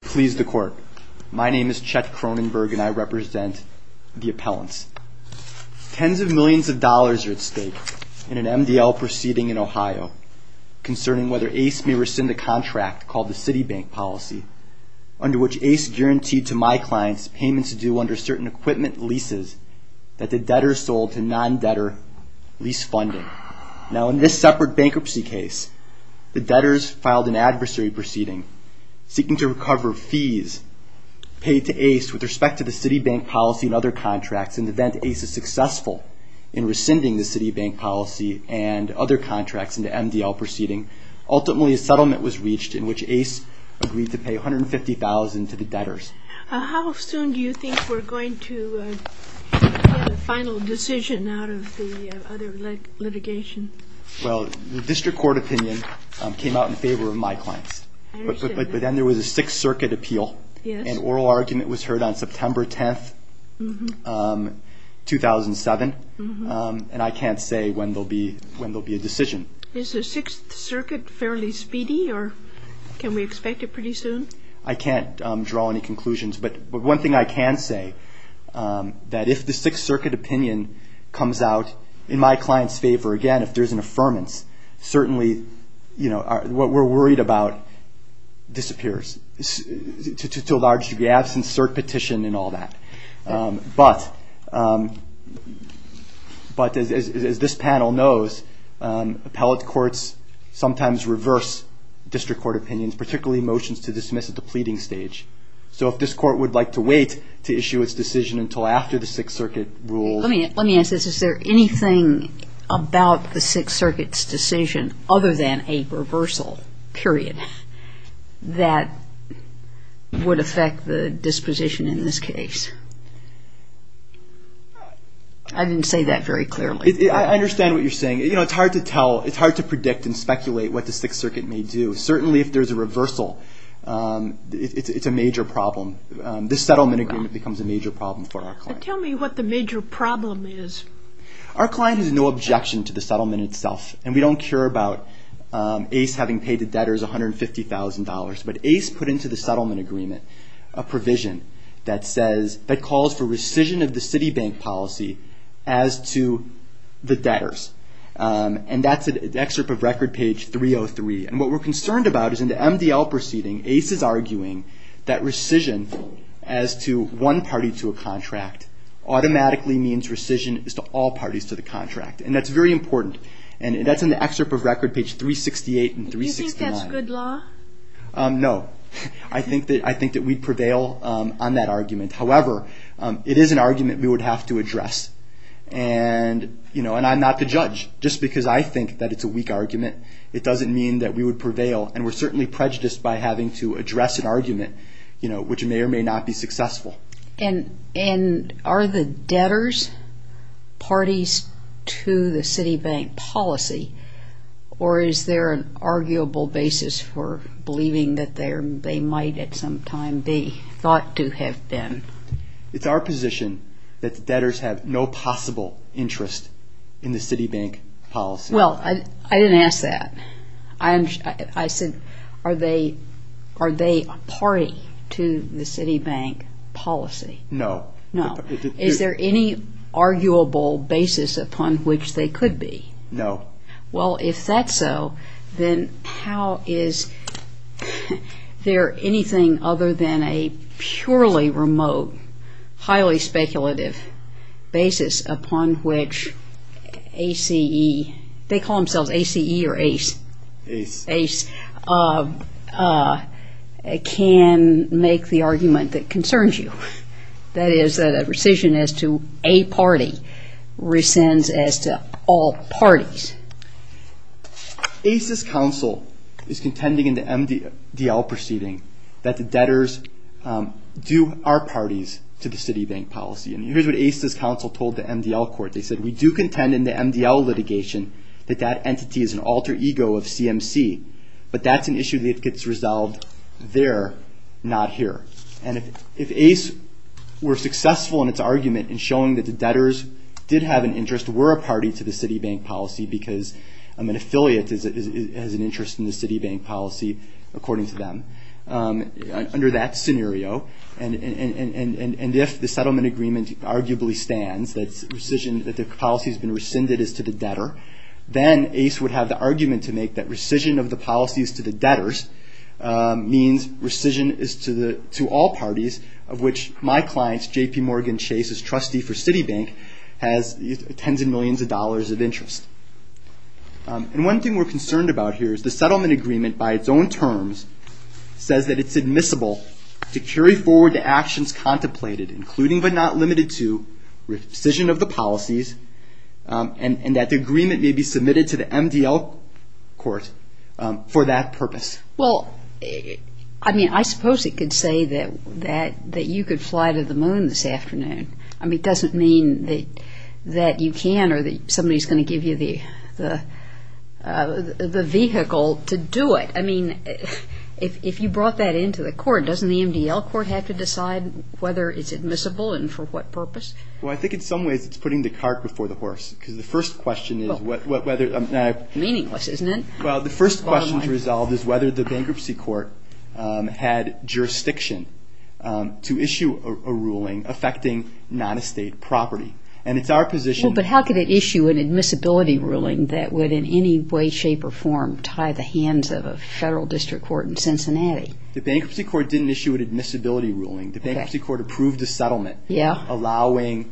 Please the court. My name is Chet Cronenberg and I represent the appellants. Tens of millions of dollars are at stake in an MDL proceeding in Ohio concerning whether ACE may rescind a contract called the Citibank policy under which ACE guaranteed to my clients payments due under certain equipment leases that the debtors sold to non-debtor lease funding. Now in this separate bankruptcy case, the debtors filed an adversary proceeding seeking to recover fees paid to ACE with respect to the Citibank policy and other contracts in the event ACE is successful in rescinding the Citibank policy and other contracts in the MDL proceeding. Ultimately a settlement was reached in which ACE agreed to pay $150,000 to the debtors. How soon do you think we're going to hear the final decision out of the other litigation? Well, the district court opinion came out in favor of my clients. But then there was a Sixth Circuit appeal. An oral argument was heard on September 10, 2007. And I can't say when there will be a decision. Is the Sixth Circuit fairly speedy or can we expect it pretty soon? I can't draw any conclusions. But one thing I can say that if the Sixth Circuit opinion comes out in my clients' favor, again, if there's an affirmance, certainly what we're worried about disappears to a large degree, absence, cert petition and all that. But as this panel knows, appellate courts sometimes reverse district court opinions, particularly motions to dismiss at the pleading stage. So if this court would like to wait to issue its decision until after the Sixth Circuit rule. Let me ask this. Is there anything about the Sixth Circuit's decision other than a reversal, period, that would affect the disposition in this case? I didn't say that very clearly. I understand what you're saying. You know, it's hard to tell. It's hard to predict and speculate what the Sixth Circuit may do. Certainly if there's a reversal, it's a major problem. This settlement agreement becomes a major problem for our clients. Tell me what the major problem is. Our client has no objection to the settlement itself. And we don't care about Ace having paid the debtors $150,000. But Ace put into the settlement agreement a provision that calls for rescission of the Citibank policy as to the debtors. And that's an excerpt of record page 303. And what we're concerned about is in the MDL proceeding, Ace is arguing that rescission as to one party to a contract automatically means rescission as to all parties to the contract. And that's very important. And that's in the excerpt of record page 368 and 369. Do you think that's good law? No. I think that we'd prevail on that argument. However, it is an argument we would have to address. And I'm not the judge. Just because I think that it's a weak argument, it doesn't mean that we would prevail. And we're certainly prejudiced by having to address an argument which may or may not be successful. And are the debtors parties to the Citibank policy? Or is there an arguable basis for believing that they might at some time be thought to have been? It's our position that the debtors have no possible interest in the Citibank policy. Well, I didn't ask that. I said, are they a party to the Citibank policy? No. No. Is there any arguable basis upon which they could be? No. Well, if that's so, then how is there anything other than a purely remote, highly speculative basis upon which A.C.E. They call themselves A.C.E. or ace. Ace. Ace. Can make the argument that concerns you. That is, that a rescission as to a party rescinds as to all parties. A.C.E.'s counsel is contending in the MDL proceeding that the debtors do our parties to the Citibank policy. And here's what A.C.E.'s counsel told the MDL court. They said, we do contend in the MDL litigation that that entity is an alter ego of CMC. But that's an issue that gets resolved there, not here. And if A.C.E. were successful in its argument in showing that the debtors did have an interest, were a party to the Citibank policy because an affiliate has an interest in the Citibank policy, according to them, under that scenario, and if the settlement agreement arguably stands, that the policy has been rescinded as to the debtor, then A.C.E. would have the argument to make that rescission of the policies to the debtors means rescission is to all parties, of which my client, J.P. Morgan Chase, is trustee for Citibank, has tens of millions of dollars of interest. And one thing we're concerned about here is the settlement agreement by its own terms says that it's admissible to carry forward the actions contemplated, including but not limited to rescission of the policies, and that the agreement may be submitted to the MDL court for that purpose. Well, I mean, I suppose it could say that you could fly to the moon this afternoon. I mean, it doesn't mean that you can or that somebody's going to give you the vehicle to do it. I mean, if you brought that into the court, doesn't the MDL court have to decide whether it's admissible and for what purpose? Well, I think in some ways it's putting the cart before the horse, because the first question is whether the bankruptcy court had jurisdiction to issue a ruling affecting non-estate property. And it's our position that Well, but how could it issue an admissibility ruling that would in any way, shape, or form tie the hands of a federal district court in Cincinnati? The bankruptcy court didn't issue an admissibility ruling. The bankruptcy court approved the settlement, allowing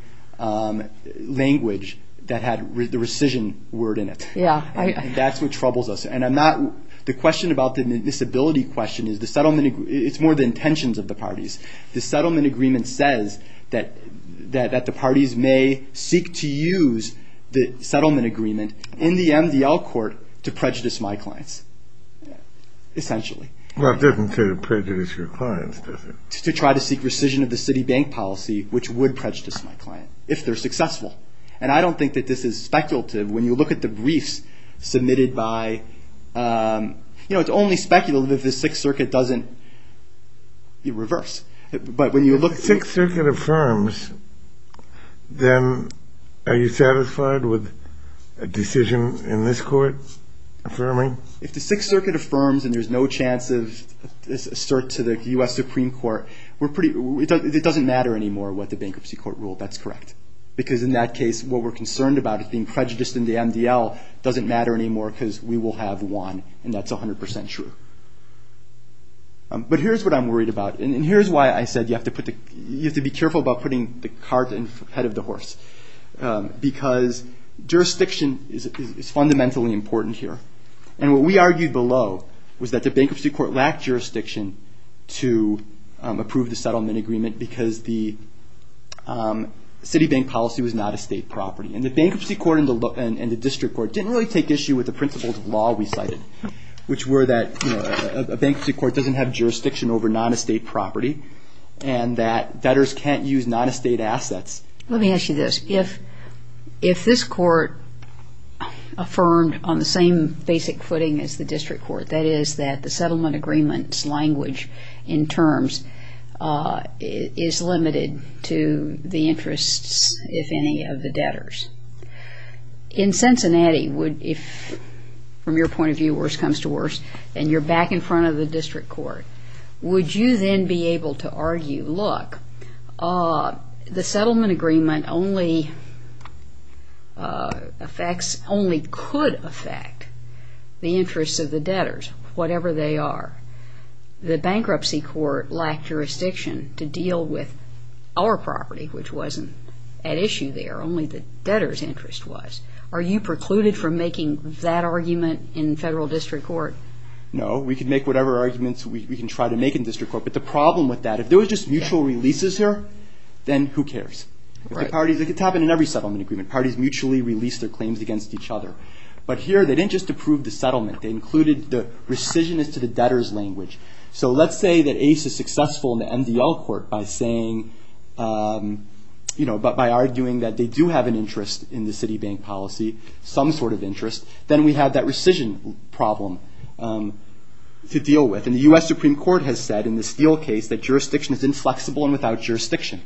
language that had the rescission word in it. And that's what troubles us. And I'm not – the question about the admissibility question is the settlement – it's more the intentions of the parties. The settlement agreement says that the parties may seek to use the settlement agreement in the MDL court to prejudice my clients, essentially. Well, it doesn't say to prejudice your clients, does it? To try to seek rescission of the city bank policy, which would prejudice my client, if they're successful. And I don't think that this is speculative. When you look at the briefs submitted by – you know, it's only speculative if the Sixth Circuit doesn't reverse. But when you look – If the Sixth Circuit affirms, then are you satisfied with a decision in this court affirming? If the Sixth Circuit affirms and there's no chance of – assert to the U.S. Supreme Court, we're pretty – it doesn't matter anymore what the bankruptcy court ruled. That's correct. Because in that case, what we're concerned about is being prejudiced in the MDL doesn't matter anymore because we will have won. And that's 100 percent true. But here's what I'm worried about. And here's why I said you have to put the – you have to be careful about putting the cart ahead of the horse. Because jurisdiction is fundamentally important here. And what we argued below was that the bankruptcy court lacked jurisdiction to approve the settlement agreement because the city bank policy was not a state property. And the bankruptcy court and the district court didn't really take issue with the principles of law we cited, which were that a bankruptcy court doesn't have jurisdiction over non-estate property and that debtors can't use non-estate assets. Let me ask you this. If this court affirmed on the same basic footing as the district court, that is that the settlement agreement's language in terms is limited to the interests, if any, of the debtors, in Cincinnati, if from your point of view, worse comes to worse, and you're back in front of the district court, would you then be able to argue, look, the settlement agreement only affects – only could affect the interests of the debtors, whatever they are. The bankruptcy court lacked jurisdiction to deal with our property, which wasn't at issue there. Only the debtors' interest was. Are you precluded from making that argument in federal district court? No. We can make whatever arguments we can try to make in district court. But the problem with that, if there were just mutual releases here, then who cares? It could happen in every settlement agreement. Parties mutually release their claims against each other. But here, they didn't just approve the settlement. They included the rescissionist to the debtors' language. So let's say that Ace is successful in the MDL court by saying – by arguing that they do have an interest in the city bank policy, some sort of interest, then we have that rescission problem to deal with. And the U.S. Supreme Court has said in the Steele case that jurisdiction is inflexible and without jurisdiction.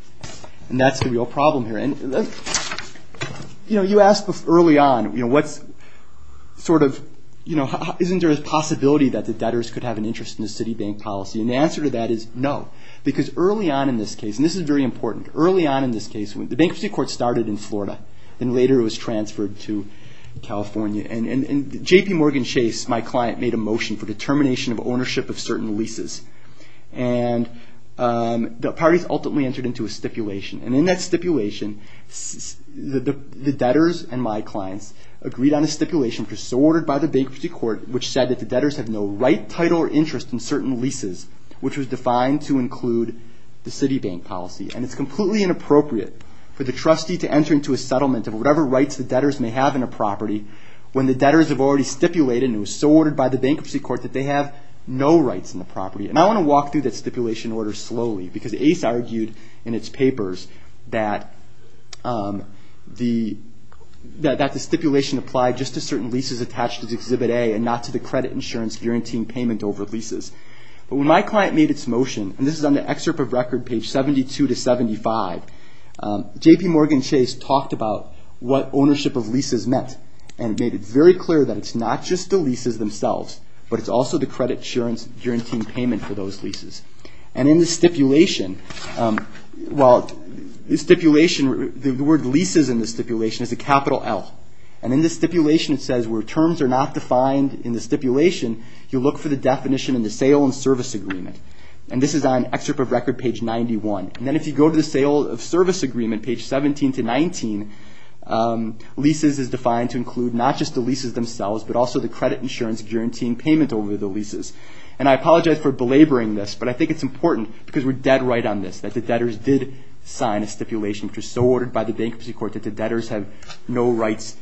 And that's the real problem here. And, you know, you ask early on, you know, what's sort of – you know, isn't there a possibility that the debtors could have an interest in the city bank policy? And the answer to that is no. Because early on in this case – and this is very important – early on in this case, the bankruptcy court started in Florida and later it was transferred to California. And JPMorgan Chase, my client, made a motion for determination of ownership of certain leases. And the parties ultimately entered into a stipulation. And in that stipulation, the debtors and my clients agreed on a stipulation, which was so ordered by the bankruptcy court, which said that the debtors have no right, title, or interest in certain leases, which was defined to include the city bank policy. And it's completely inappropriate for the trustee to enter into a settlement of whatever rights the debtors may have in a property when the debtors have already stipulated and it was so ordered by the bankruptcy court that they have no rights in the property. And I want to walk through that stipulation order slowly, because Ace argued in its papers that the stipulation applied just to certain leases attached to Exhibit A and not to the credit insurance guaranteeing payment over leases. But when my client made its motion – and this is on the excerpt of record, page 72 to 75 – JPMorgan Chase talked about what ownership of leases meant. And it made it very clear that it's not just the leases themselves, but it's also the credit insurance guaranteeing payment for those leases. And in the stipulation – well, the word leases in the stipulation is a capital L. And in the stipulation it says where terms are not defined in the stipulation, you look for the definition in the sale and service agreement. And this is on excerpt of record, page 91. And then if you go to the sale and service agreement, page 17 to 19, leases is defined to include not just the leases themselves, but also the credit insurance guaranteeing payment over the leases. And I apologize for belaboring this, but I think it's important because we're dead right on this, that the debtors did sign a stipulation which was so ordered by the bankruptcy court that the debtors have no rights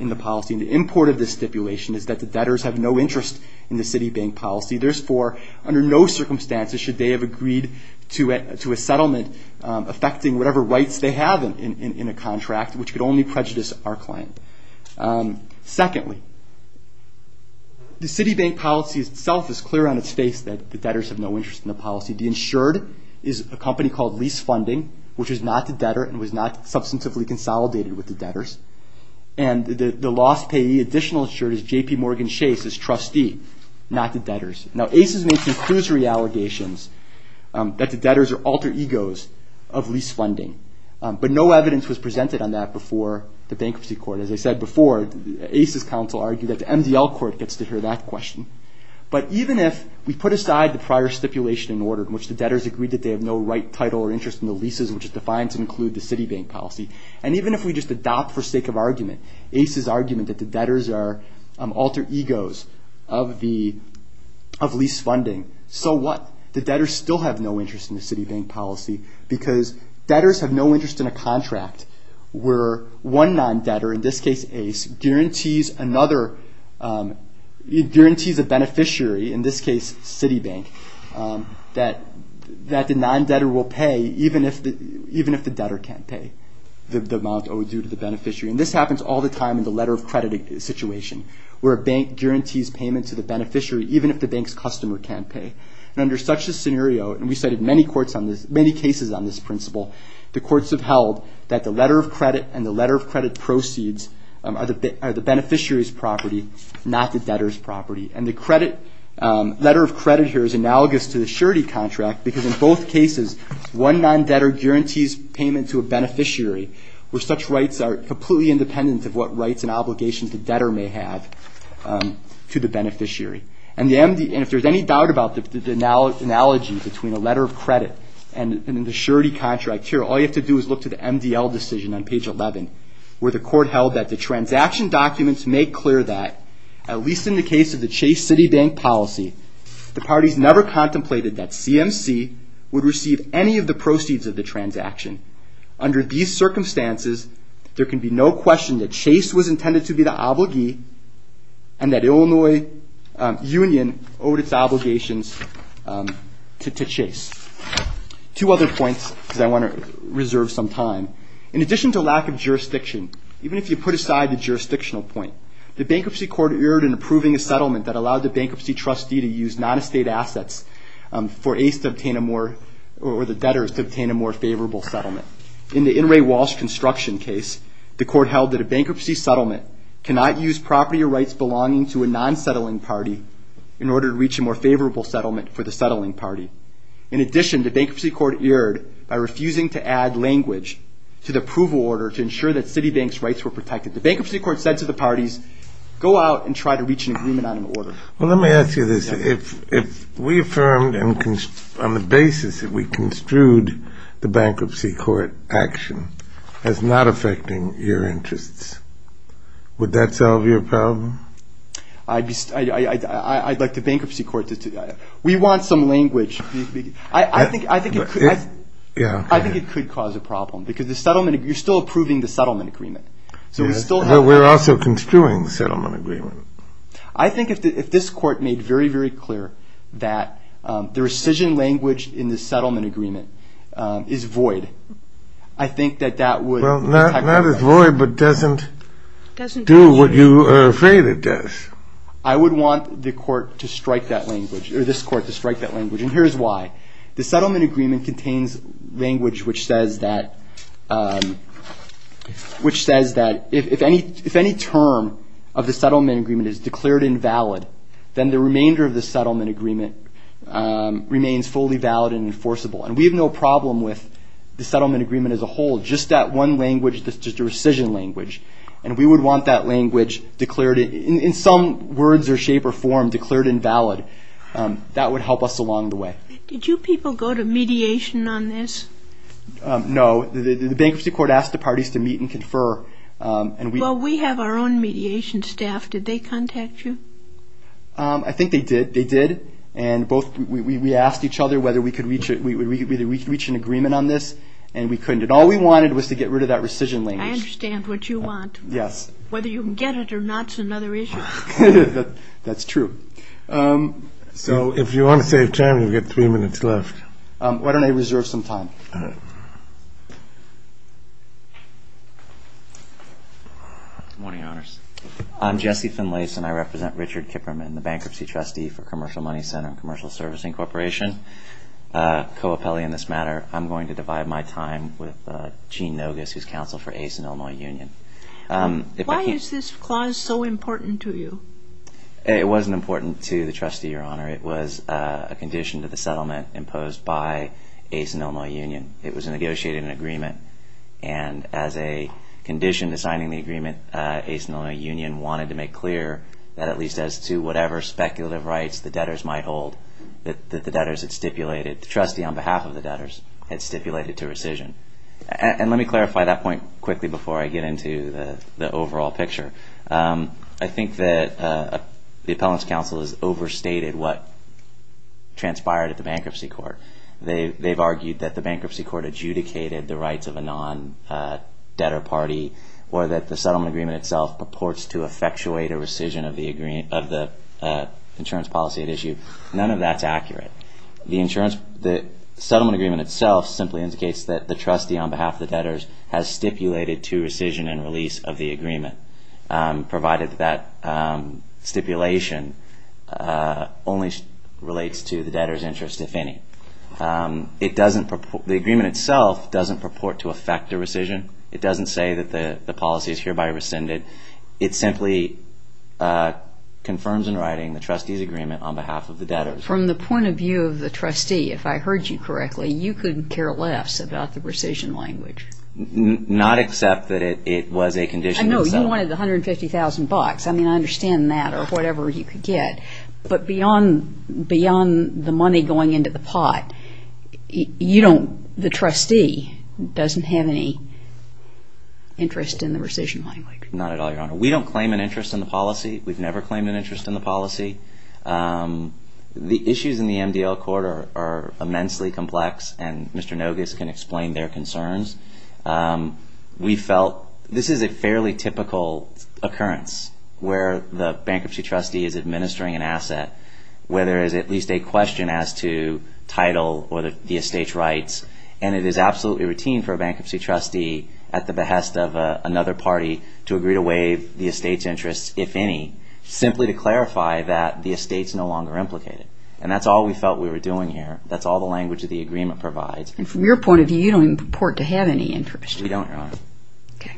in the policy. And the import of this stipulation is that the debtors have no interest in the Citibank policy. Therefore, under no circumstances should they have agreed to a settlement affecting whatever rights they have in a contract, which could only prejudice our client. Secondly, the Citibank policy itself is clear on its face that the debtors have no interest in the policy. The insured is a company called Lease Funding, which is not the debtor and was not substantively consolidated with the debtors. And the lost payee additional insured is J.P. Morgan Chase, his trustee, not the debtors. Now ACES makes inclusory allegations that the debtors are alter egos of lease funding, but no evidence was presented on that before the bankruptcy court. As I said before, ACES counsel argued that the MDL court gets to hear that question. But even if we put aside the prior stipulation in order in which the debtors agreed that they have no right, title, or interest in the leases, which is defined to include the Citibank policy, and even if we just adopt, for sake of argument, ACES' argument that the debtors are alter egos of lease funding, so what? The debtors still have no interest in the Citibank policy because debtors have no interest in a contract where one non-debtor, in this case ACE, guarantees a beneficiary, in this case Citibank, that the non-debtor will pay even if the debtor can't pay. The amount owed due to the beneficiary. And this happens all the time in the letter of credit situation, where a bank guarantees payment to the beneficiary even if the bank's customer can't pay. And under such a scenario, and we cited many cases on this principle, the courts have held that the letter of credit and the letter of credit proceeds are the beneficiary's property, not the debtor's property. And the letter of credit here is analogous to the surety contract because in both cases, one non-debtor guarantees payment to a beneficiary, where such rights are completely independent of what rights and obligations the debtor may have to the beneficiary. And if there's any doubt about the analogy between a letter of credit and the surety contract here, all you have to do is look to the MDL decision on page 11, where the court held that the transaction documents make clear that, at least in the case of the Chase Citibank policy, the parties never contemplated that CMC would receive any of the proceeds of the transaction. Under these circumstances, there can be no question that Chase was intended to be the obligee and that Illinois Union owed its obligations to Chase. Two other points, because I want to reserve some time. In addition to lack of jurisdiction, even if you put aside the jurisdictional point, the bankruptcy court erred in approving a settlement that allowed the bankruptcy trustee to use non-estate assets for ACE to obtain a more, or the debtors to obtain a more favorable settlement. In the In re Walsh construction case, the court held that a bankruptcy settlement cannot use property or rights belonging to a non-settling party in order to reach a more favorable settlement for the settling party. In addition, the bankruptcy court erred by refusing to add language to the approval order to ensure that Citibank's rights were protected. The bankruptcy court said to the parties, go out and try to reach an agreement on an order. Well, let me ask you this. If we affirmed on the basis that we construed the bankruptcy court action as not affecting your interests, would that solve your problem? I'd like the bankruptcy court to do that. We want some language. I think it could cause a problem because you're still approving the settlement agreement. But we're also construing the settlement agreement. I think if this court made very, very clear that the rescission language in the settlement agreement is void, I think that that would. Well, not as void, but doesn't do what you are afraid it does. I would want the court to strike that language, or this court to strike that language, and here's why. The settlement agreement contains language which says that if any term of the settlement agreement is declared invalid, then the remainder of the settlement agreement remains fully valid and enforceable. And we have no problem with the settlement agreement as a whole, just that one language, just the rescission language. And we would want that language declared in some words or shape or form declared invalid. That would help us along the way. Did you people go to mediation on this? No. The bankruptcy court asked the parties to meet and confer. Well, we have our own mediation staff. Did they contact you? I think they did. They did. And we asked each other whether we could reach an agreement on this, and we couldn't. And all we wanted was to get rid of that rescission language. I understand what you want. Yes. Whether you can get it or not is another issue. That's true. So if you want to save time, you've got three minutes left. Why don't I reserve some time? All right. Good morning, Your Honors. I'm Jesse Finlayson. I represent Richard Kipperman, the bankruptcy trustee for Commercial Money Center and Commercial Servicing Corporation. Co-appellee in this matter, I'm going to divide my time with Gene Nogas, who's counsel for ACE and Illinois Union. Why is this clause so important to you? It wasn't important to the trustee, Your Honor. It was a condition to the settlement imposed by ACE and Illinois Union. It was negotiated in agreement, and as a condition to signing the agreement, ACE and Illinois Union wanted to make clear that at least as to whatever speculative rights the debtors might hold that the debtors had stipulated. The trustee on behalf of the debtors had stipulated to rescission. And let me clarify that point quickly before I get into the overall picture. I think that the appellant's counsel has overstated what transpired at the bankruptcy court. They've argued that the bankruptcy court adjudicated the rights of a non-debtor party or that the settlement agreement itself purports to effectuate a rescission of the insurance policy at issue. None of that's accurate. The settlement agreement itself simply indicates that the trustee on behalf of the debtors has stipulated to rescission and release of the agreement. Provided that stipulation only relates to the debtors' interest, if any. The agreement itself doesn't purport to effect a rescission. It doesn't say that the policy is hereby rescinded. It simply confirms in writing the trustee's agreement on behalf of the debtors. From the point of view of the trustee, if I heard you correctly, you couldn't care less about the rescission language. Not except that it was a condition. No, you wanted $150,000. I mean, I understand that or whatever you could get. But beyond the money going into the pot, the trustee doesn't have any interest in the rescission language. Not at all, Your Honor. We don't claim an interest in the policy. We've never claimed an interest in the policy. The issues in the MDL Court are immensely complex, and Mr. Nogas can explain their concerns. We felt this is a fairly typical occurrence where the bankruptcy trustee is administering an asset, where there is at least a question as to title or the estate's rights, and it is absolutely routine for a bankruptcy trustee at the behest of another party to agree to waive the estate's interest, if any, simply to clarify that the estate's no longer implicated. And that's all we felt we were doing here. That's all the language of the agreement provides. And from your point of view, you don't even purport to have any interest. We don't, Your Honor. Okay.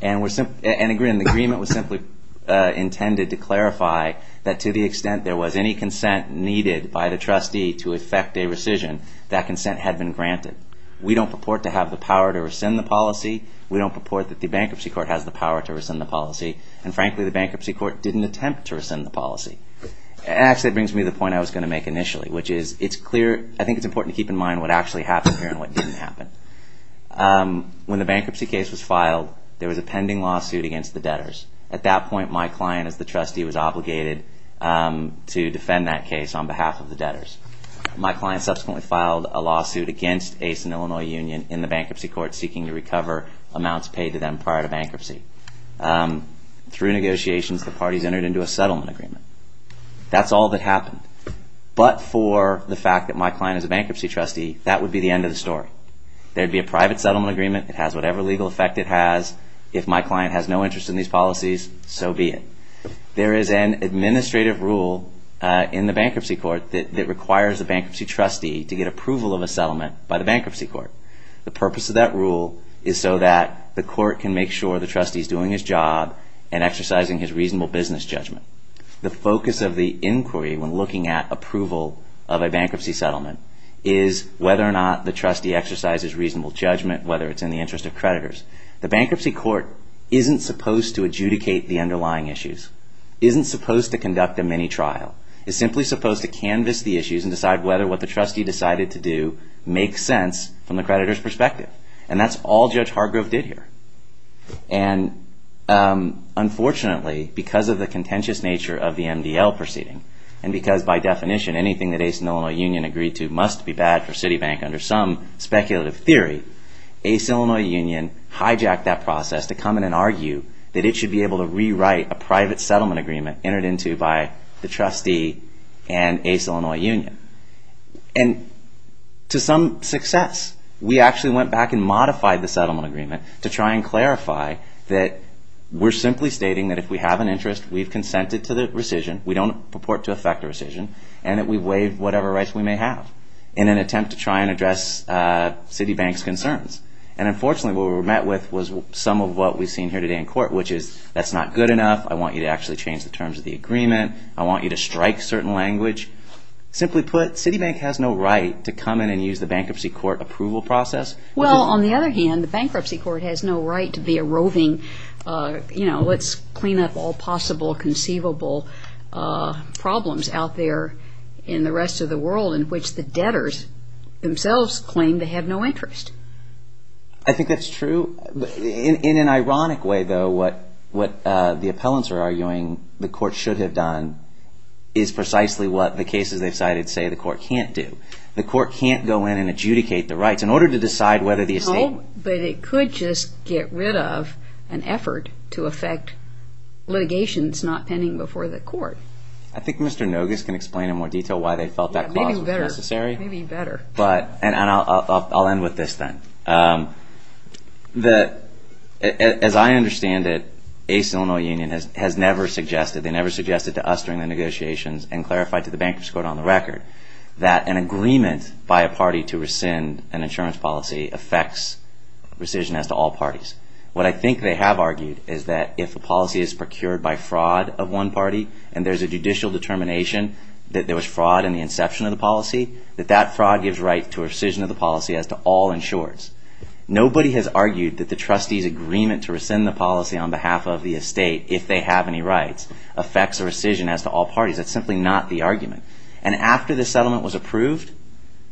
And the agreement was simply intended to clarify that to the extent there was any consent needed by the trustee to effect a rescission, that consent had been granted. We don't purport to have the power to rescind the policy. And frankly, the bankruptcy court didn't attempt to rescind the policy. Actually, that brings me to the point I was going to make initially, which is it's clear. I think it's important to keep in mind what actually happened here and what didn't happen. When the bankruptcy case was filed, there was a pending lawsuit against the debtors. At that point, my client as the trustee was obligated to defend that case on behalf of the debtors. My client subsequently filed a lawsuit against ACE and Illinois Union in the bankruptcy court, seeking to recover amounts paid to them prior to bankruptcy. Through negotiations, the parties entered into a settlement agreement. That's all that happened. But for the fact that my client is a bankruptcy trustee, that would be the end of the story. There would be a private settlement agreement. It has whatever legal effect it has. If my client has no interest in these policies, so be it. There is an administrative rule in the bankruptcy court that requires a bankruptcy trustee to get approval of a settlement by the bankruptcy court. The purpose of that rule is so that the court can make sure the trustee is doing his job and exercising his reasonable business judgment. The focus of the inquiry when looking at approval of a bankruptcy settlement is whether or not the trustee exercises reasonable judgment, whether it's in the interest of creditors. The bankruptcy court isn't supposed to adjudicate the underlying issues, isn't supposed to conduct a mini-trial. It's simply supposed to canvas the issues and decide whether what the trustee decided to do makes sense from the creditor's perspective. And that's all Judge Hargrove did here. And unfortunately, because of the contentious nature of the MDL proceeding, and because by definition anything that ACE and Illinois Union agreed to must be bad for Citibank under some speculative theory, ACE and Illinois Union hijacked that process to come in and argue that it should be able to rewrite a private settlement agreement entered into by the trustee and ACE and Illinois Union. And to some success, we actually went back and modified the settlement agreement to try and clarify that we're simply stating that if we have an interest, we've consented to the rescission, we don't purport to effect a rescission, and that we waive whatever rights we may have in an attempt to try and address Citibank's concerns. And unfortunately, what we were met with was some of what we've seen here today in court, which is that's not good enough, I want you to actually change the terms of the agreement, I want you to strike certain language. Simply put, Citibank has no right to come in and use the bankruptcy court approval process. Well, on the other hand, the bankruptcy court has no right to be a roving, you know, let's clean up all possible conceivable problems out there in the rest of the world in which the debtors themselves claim they have no interest. I think that's true. In an ironic way, though, what the appellants are arguing the court should have done is precisely what the cases they've cited say the court can't do. The court can't go in and adjudicate the rights in order to decide whether the estate... an effort to affect litigation that's not pending before the court. I think Mr. Nogas can explain in more detail why they felt that clause was necessary. Maybe better. And I'll end with this then. As I understand it, ACE Illinois Union has never suggested, they never suggested to us during the negotiations and clarified to the bankruptcy court on the record, that an agreement by a party to rescind an insurance policy affects rescission as to all parties. What I think they have argued is that if a policy is procured by fraud of one party and there's a judicial determination that there was fraud in the inception of the policy, that that fraud gives right to rescission of the policy as to all insurers. Nobody has argued that the trustee's agreement to rescind the policy on behalf of the estate, if they have any rights, affects rescission as to all parties. That's simply not the argument. And after the settlement was approved,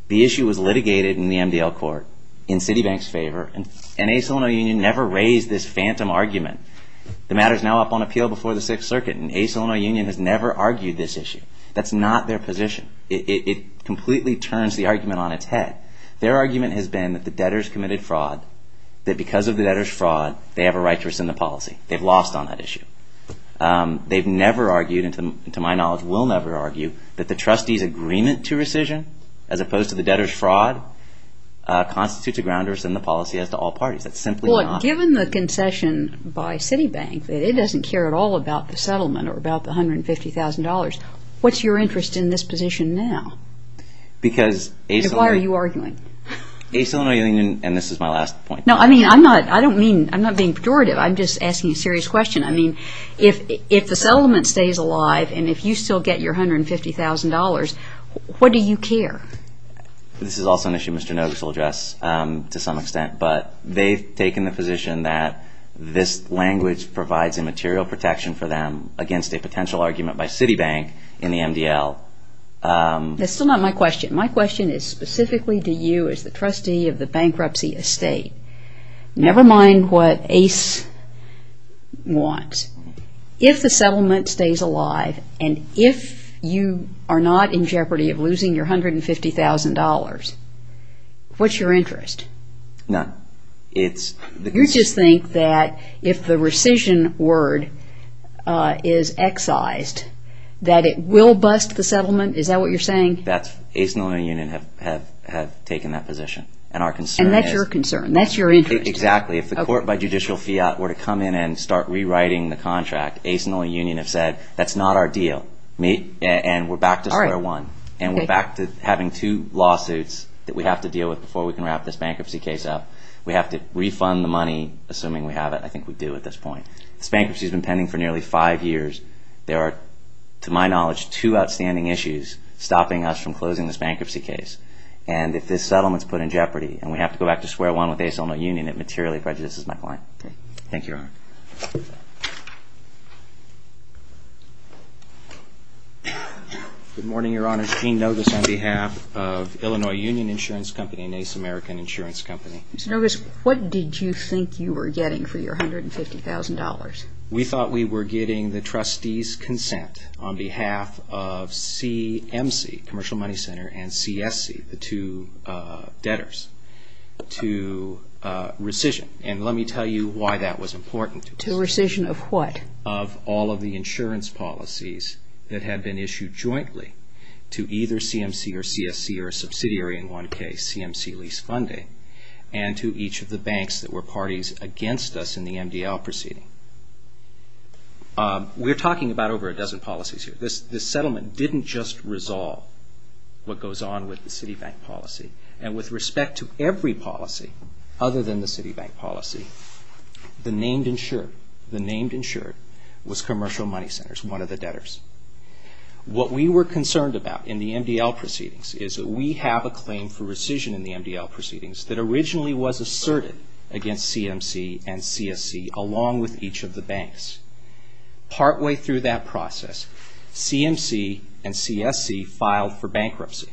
the issue was litigated in the MDL court in Citibank's favor, and ACE Illinois Union never raised this phantom argument. The matter is now up on appeal before the Sixth Circuit, and ACE Illinois Union has never argued this issue. That's not their position. It completely turns the argument on its head. Their argument has been that the debtors committed fraud, that because of the debtors' fraud, they have a right to rescind the policy. They've lost on that issue. They've never argued, and to my knowledge will never argue, that the trustee's agreement to rescission, as opposed to the debtors' fraud, constitutes a grounders in the policy as to all parties. That's simply not the argument. Well, given the concession by Citibank, that it doesn't care at all about the settlement or about the $150,000, what's your interest in this position now? Because ACE Illinois Union... Why are you arguing? ACE Illinois Union, and this is my last point... No, I mean, I'm not being pejorative. I'm just asking a serious question. I mean, if the settlement stays alive and if you still get your $150,000, what do you care? This is also an issue Mr. Nogos will address to some extent, but they've taken the position that this language provides a material protection for them against a potential argument by Citibank in the MDL. That's still not my question. My question is specifically to you as the trustee of the bankruptcy estate. Never mind what ACE wants. If the settlement stays alive and if you are not in jeopardy of losing your $150,000, what's your interest? None. You just think that if the rescission word is excised, that it will bust the settlement? Is that what you're saying? ACE Illinois Union have taken that position, and our concern is... And that's your concern. That's your interest. Exactly. If the court by judicial fiat were to come in and start rewriting the contract, ACE Illinois Union have said, that's not our deal, and we're back to square one. And we're back to having two lawsuits that we have to deal with before we can wrap this bankruptcy case up. We have to refund the money, assuming we have it. I think we do at this point. This bankruptcy has been pending for nearly five years. There are, to my knowledge, two outstanding issues stopping us from closing this bankruptcy case. And if this settlement is put in jeopardy, and we have to go back to square one with ACE Illinois Union, it materially prejudices my client. Thank you, Your Honor. Good morning, Your Honor. Gene Nogas on behalf of Illinois Union Insurance Company and ACE American Insurance Company. Mr. Nogas, what did you think you were getting for your $150,000? We thought we were getting the trustee's consent on behalf of CMC, Commercial Money Center, and CSC, the two debtors, to rescission. And let me tell you why that was important. To rescission of what? Of all of the insurance policies that had been issued jointly to either CMC or CSC or a subsidiary in one case, CMC lease funding, and to each of the banks that were parties against us in the MDL proceeding. We're talking about over a dozen policies here. This settlement didn't just resolve what goes on with the Citibank policy. And with respect to every policy other than the Citibank policy, the named insured was Commercial Money Centers, one of the debtors. What we were concerned about in the MDL proceedings is that we have a claim for rescission in the MDL proceedings that originally was asserted against CMC and CSC along with each of the banks. Partway through that process, CMC and CSC filed for bankruptcy.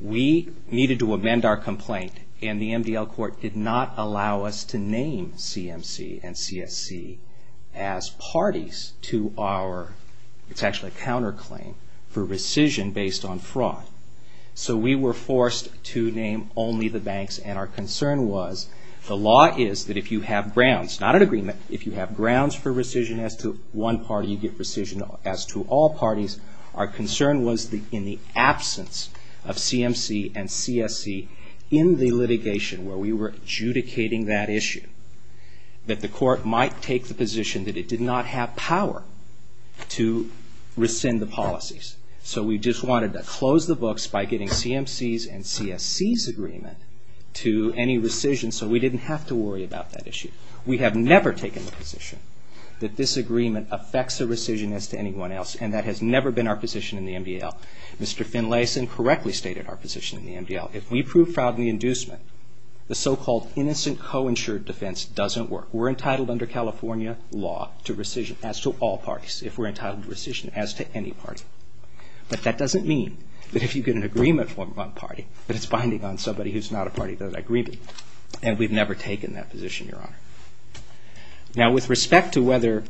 We needed to amend our complaint, and the MDL court did not allow us to name CMC and CSC as parties to our, it's actually a counterclaim, for rescission based on fraud. So we were forced to name only the banks, and our concern was the law is that if you have grounds, not an agreement, if you have grounds for rescission as to one party, you get rescission as to all parties. Our concern was in the absence of CMC and CSC in the litigation where we were adjudicating that issue, that the court might take the position that it did not have power to rescind the policies. So we just wanted to close the books by getting CMC's and CSC's agreement to any rescission so we didn't have to worry about that issue. We have never taken the position that this agreement affects the rescission as to anyone else, and that has never been our position in the MDL. Mr. Finlayson correctly stated our position in the MDL. If we prove fraud in the inducement, the so-called innocent co-insured defense doesn't work. We're entitled under California law to rescission as to all parties, if we're entitled to rescission as to any party. But that doesn't mean that if you get an agreement from one party, that it's binding on somebody who's not a party to that agreement, and we've never taken that position, Your Honor. Now with respect to whether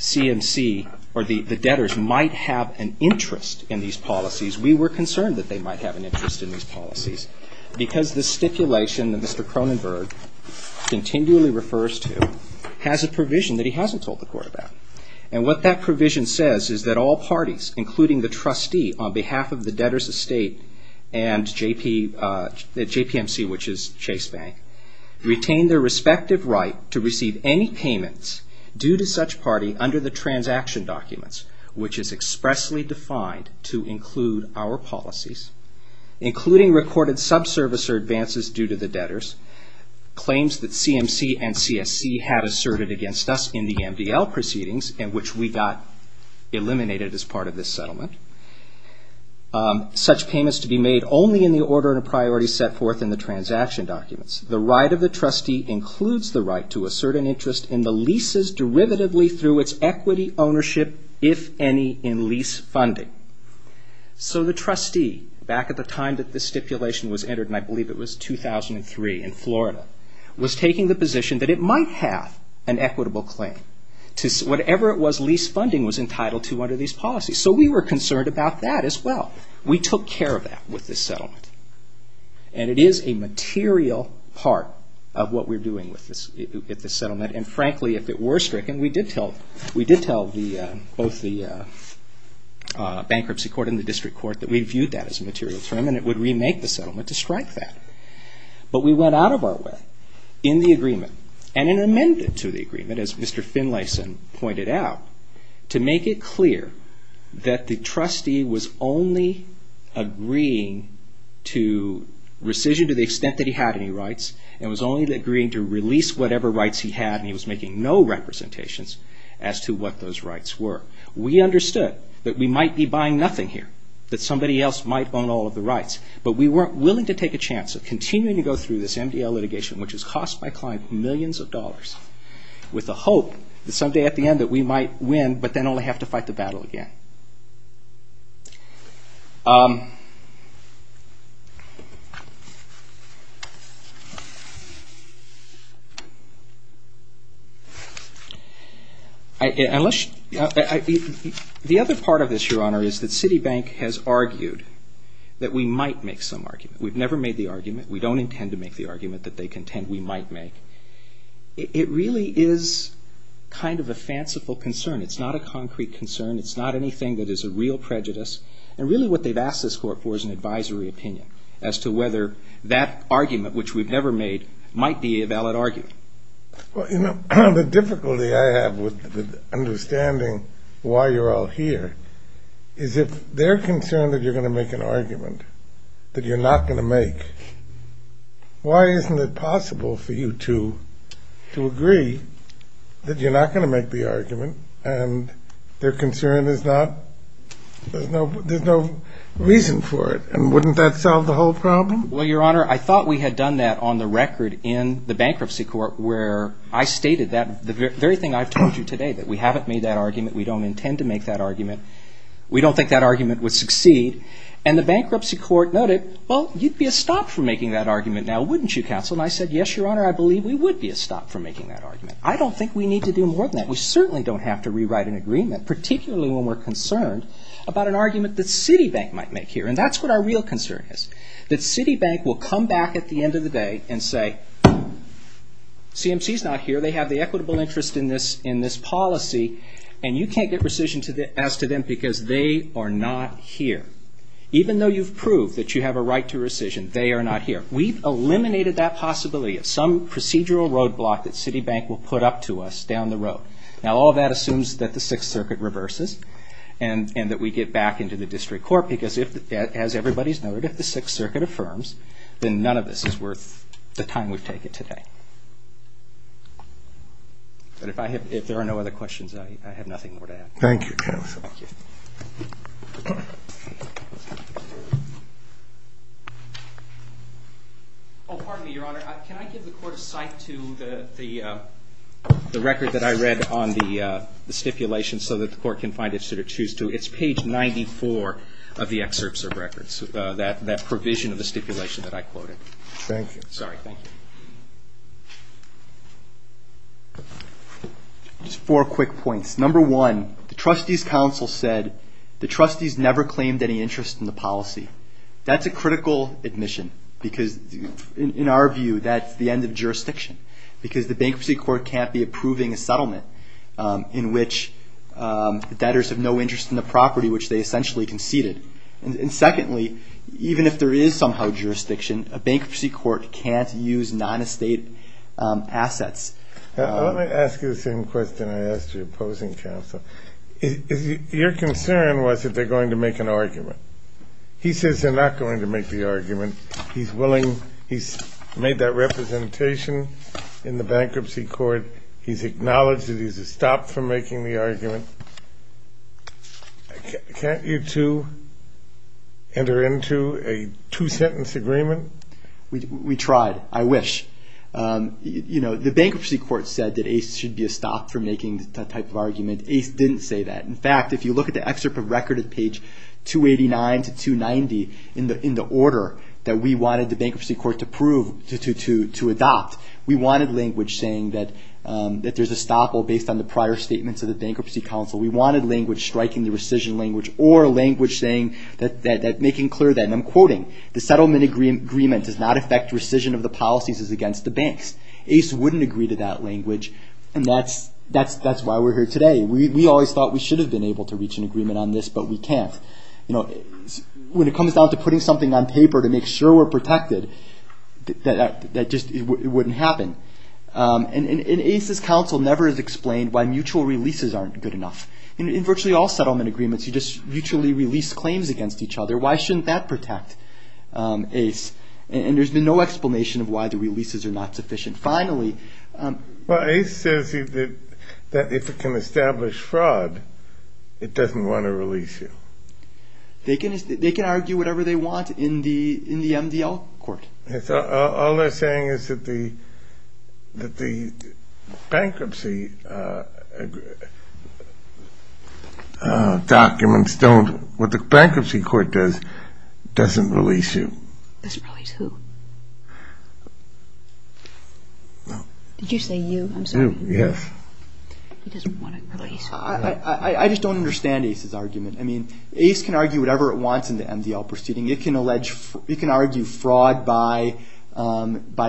CMC or the debtors might have an interest in these policies, we were concerned that they might have an interest in these policies because this stipulation that Mr. Cronenberg continually refers to has a provision that he hasn't told the Court about. And what that provision says is that all parties, including the trustee, on behalf of the debtors' estate and JPMC, which is Chase Bank, retain their respective right to receive any payments due to such party under the transaction documents, which is expressly defined to include our policies, including recorded subservice or advances due to the debtors, claims that CMC and CSC have asserted against us in the MDL proceedings, in which we got eliminated as part of this settlement, such payments to be made only in the order and priority set forth in the transaction documents. The right of the trustee includes the right to assert an interest in the leases derivatively through its equity ownership, if any, in lease funding. So the trustee, back at the time that this stipulation was entered, and I believe it was 2003 in Florida, was taking the position that it might have an equitable claim to whatever it was lease funding was entitled to under these policies. So we were concerned about that as well. We took care of that with this settlement. And it is a material part of what we're doing with this settlement. And frankly, if it were stricken, we did tell both the bankruptcy court and the district court that we viewed that as a material term, and it would remake the settlement to strike that. But we went out of our way in the agreement, and in amendment to the agreement, as Mr. Finlayson pointed out, to make it clear that the trustee was only agreeing to rescission to the extent that he had any rights, and was only agreeing to release whatever rights he had, and he was making no representations as to what those rights were. We understood that we might be buying nothing here, that somebody else might own all of the rights, but we weren't willing to take a chance of continuing to go through this MDL litigation, which has cost my client millions of dollars, with the hope that someday at the end that we might win, but then only have to fight the battle again. The other part of this, Your Honor, is that Citibank has argued that we might make some argument. We've never made the argument. We don't intend to make the argument that they contend we might make. It really is kind of a fanciful concern. It's not a concrete concern. It's not anything that is a real prejudice. And really what they've asked this court for is an advisory opinion as to whether that argument, which we've never made, might be a valid argument. Well, you know, the difficulty I have with understanding why you're all here is if they're concerned that you're going to make an argument that you're not going to make, why isn't it possible for you two to agree that you're not going to make the argument and their concern is there's no reason for it? And wouldn't that solve the whole problem? Well, Your Honor, I thought we had done that on the record in the bankruptcy court where I stated the very thing I've told you today, that we haven't made that argument. We don't intend to make that argument. We don't think that argument would succeed. And the bankruptcy court noted, well, you'd be a stop from making that argument now, wouldn't you, Counsel? And I said, yes, Your Honor, I believe we would be a stop from making that argument. I don't think we need to do more than that. We certainly don't have to rewrite an agreement, particularly when we're concerned about an argument that Citibank might make here. And that's what our real concern is, that Citibank will come back at the end of the day and say, CMC's not here. They have the equitable interest in this policy and you can't get rescission as to them because they are not here. Even though you've proved that you have a right to rescission, they are not here. We've eliminated that possibility of some procedural roadblock that Citibank will put up to us down the road. Now, all that assumes that the Sixth Circuit reverses and that we get back into the district court because, as everybody's noted, if the Sixth Circuit affirms, then none of this is worth the time we've taken today. But if there are no other questions, I have nothing more to add. Thank you, Counsel. Thank you. Oh, pardon me, Your Honor. Can I give the Court a cite to the record that I read on the stipulation so that the Court can find it suit or choose to? It's page 94 of the excerpts of records, that provision of the stipulation that I quoted. Thank you. Sorry, thank you. Just four quick points. Number one, the Trustees' Counsel said the trustees never claimed any interest in the policy. That's a critical admission because, in our view, that's the end of jurisdiction because the Bankruptcy Court can't be approving a settlement in which the debtors have no interest in the property, which they essentially conceded. And secondly, even if there is somehow jurisdiction, a Bankruptcy Court can't use non-estate assets. Let me ask you the same question I asked your opposing counsel. Your concern was that they're going to make an argument. He says they're not going to make the argument. He's willing. He's made that representation in the Bankruptcy Court. He's acknowledged that he's a stop for making the argument. Can't you two enter into a two-sentence agreement? We tried. I wish. The Bankruptcy Court said that ACE should be a stop for making that type of argument. ACE didn't say that. In fact, if you look at the excerpt of record at page 289 to 290, in the order that we wanted the Bankruptcy Court to adopt, we wanted language saying that there's a stop based on the prior statements of the Bankruptcy Counsel. We wanted language striking the rescission language or language making clear that, and I'm quoting, the settlement agreement does not affect rescission of the policies as against the banks. ACE wouldn't agree to that language, and that's why we're here today. We always thought we should have been able to reach an agreement on this, but we can't. When it comes down to putting something on paper to make sure we're protected, that just wouldn't happen. And ACE's counsel never has explained why mutual releases aren't good enough. In virtually all settlement agreements, you just mutually release claims against each other. Why shouldn't that protect ACE? And there's been no explanation of why the releases are not sufficient. Finally, Well, ACE says that if it can establish fraud, it doesn't want to release you. They can argue whatever they want in the MDL court. All they're saying is that the bankruptcy documents don't, what the bankruptcy court does, doesn't release you. Doesn't release who? Did you say you? I'm sorry. You, yes. He doesn't want to release. I just don't understand ACE's argument. I mean, ACE can argue whatever it wants in the MDL proceeding. It can argue fraud by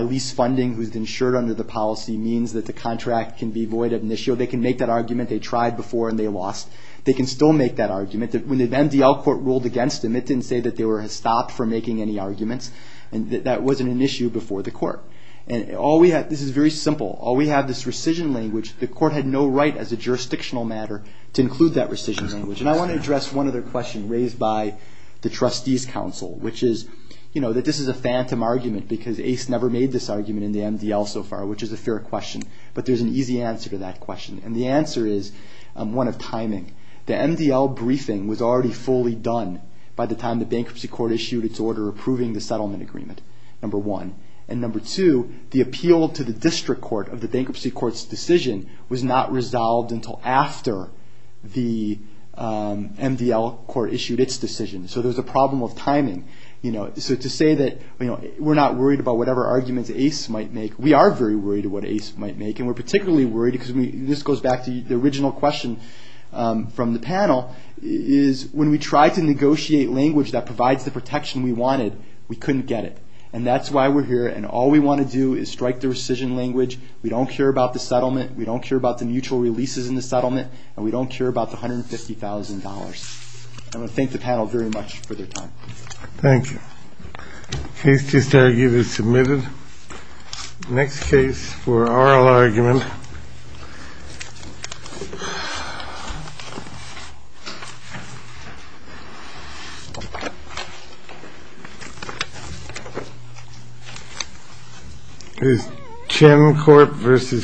lease funding who's insured under the policy means that the contract can be void of an issue. They can make that argument. They tried before and they lost. They can still make that argument. When the MDL court ruled against them, it didn't say that they were stopped from making any arguments. That wasn't an issue before the court. This is very simple. All we have is this rescission language. The court had no right as a jurisdictional matter to include that rescission language. I want to address one other question raised by the trustees council, which is that this is a phantom argument because ACE never made this argument in the MDL so far, which is a fair question. But there's an easy answer to that question. The answer is one of timing. The MDL briefing was already fully done by the time the bankruptcy court issued its order approving the settlement agreement, number one. Number two, the appeal to the district court of the bankruptcy court's decision was not resolved until after the MDL court issued its decision. So there's a problem with timing. So to say that we're not worried about whatever arguments ACE might make, we are very worried about what ACE might make, and we're particularly worried because this goes back to the original question from the panel, is when we try to negotiate language that provides the protection we wanted, we couldn't get it. And that's why we're here, and all we want to do is strike the rescission language. We don't care about the settlement. We don't care about the mutual releases in the settlement, and we don't care about the $150,000. I want to thank the panel very much for their time. Thank you. The case just argued is submitted. Next case for oral argument. Jim Corp versus Kedona. Thank you.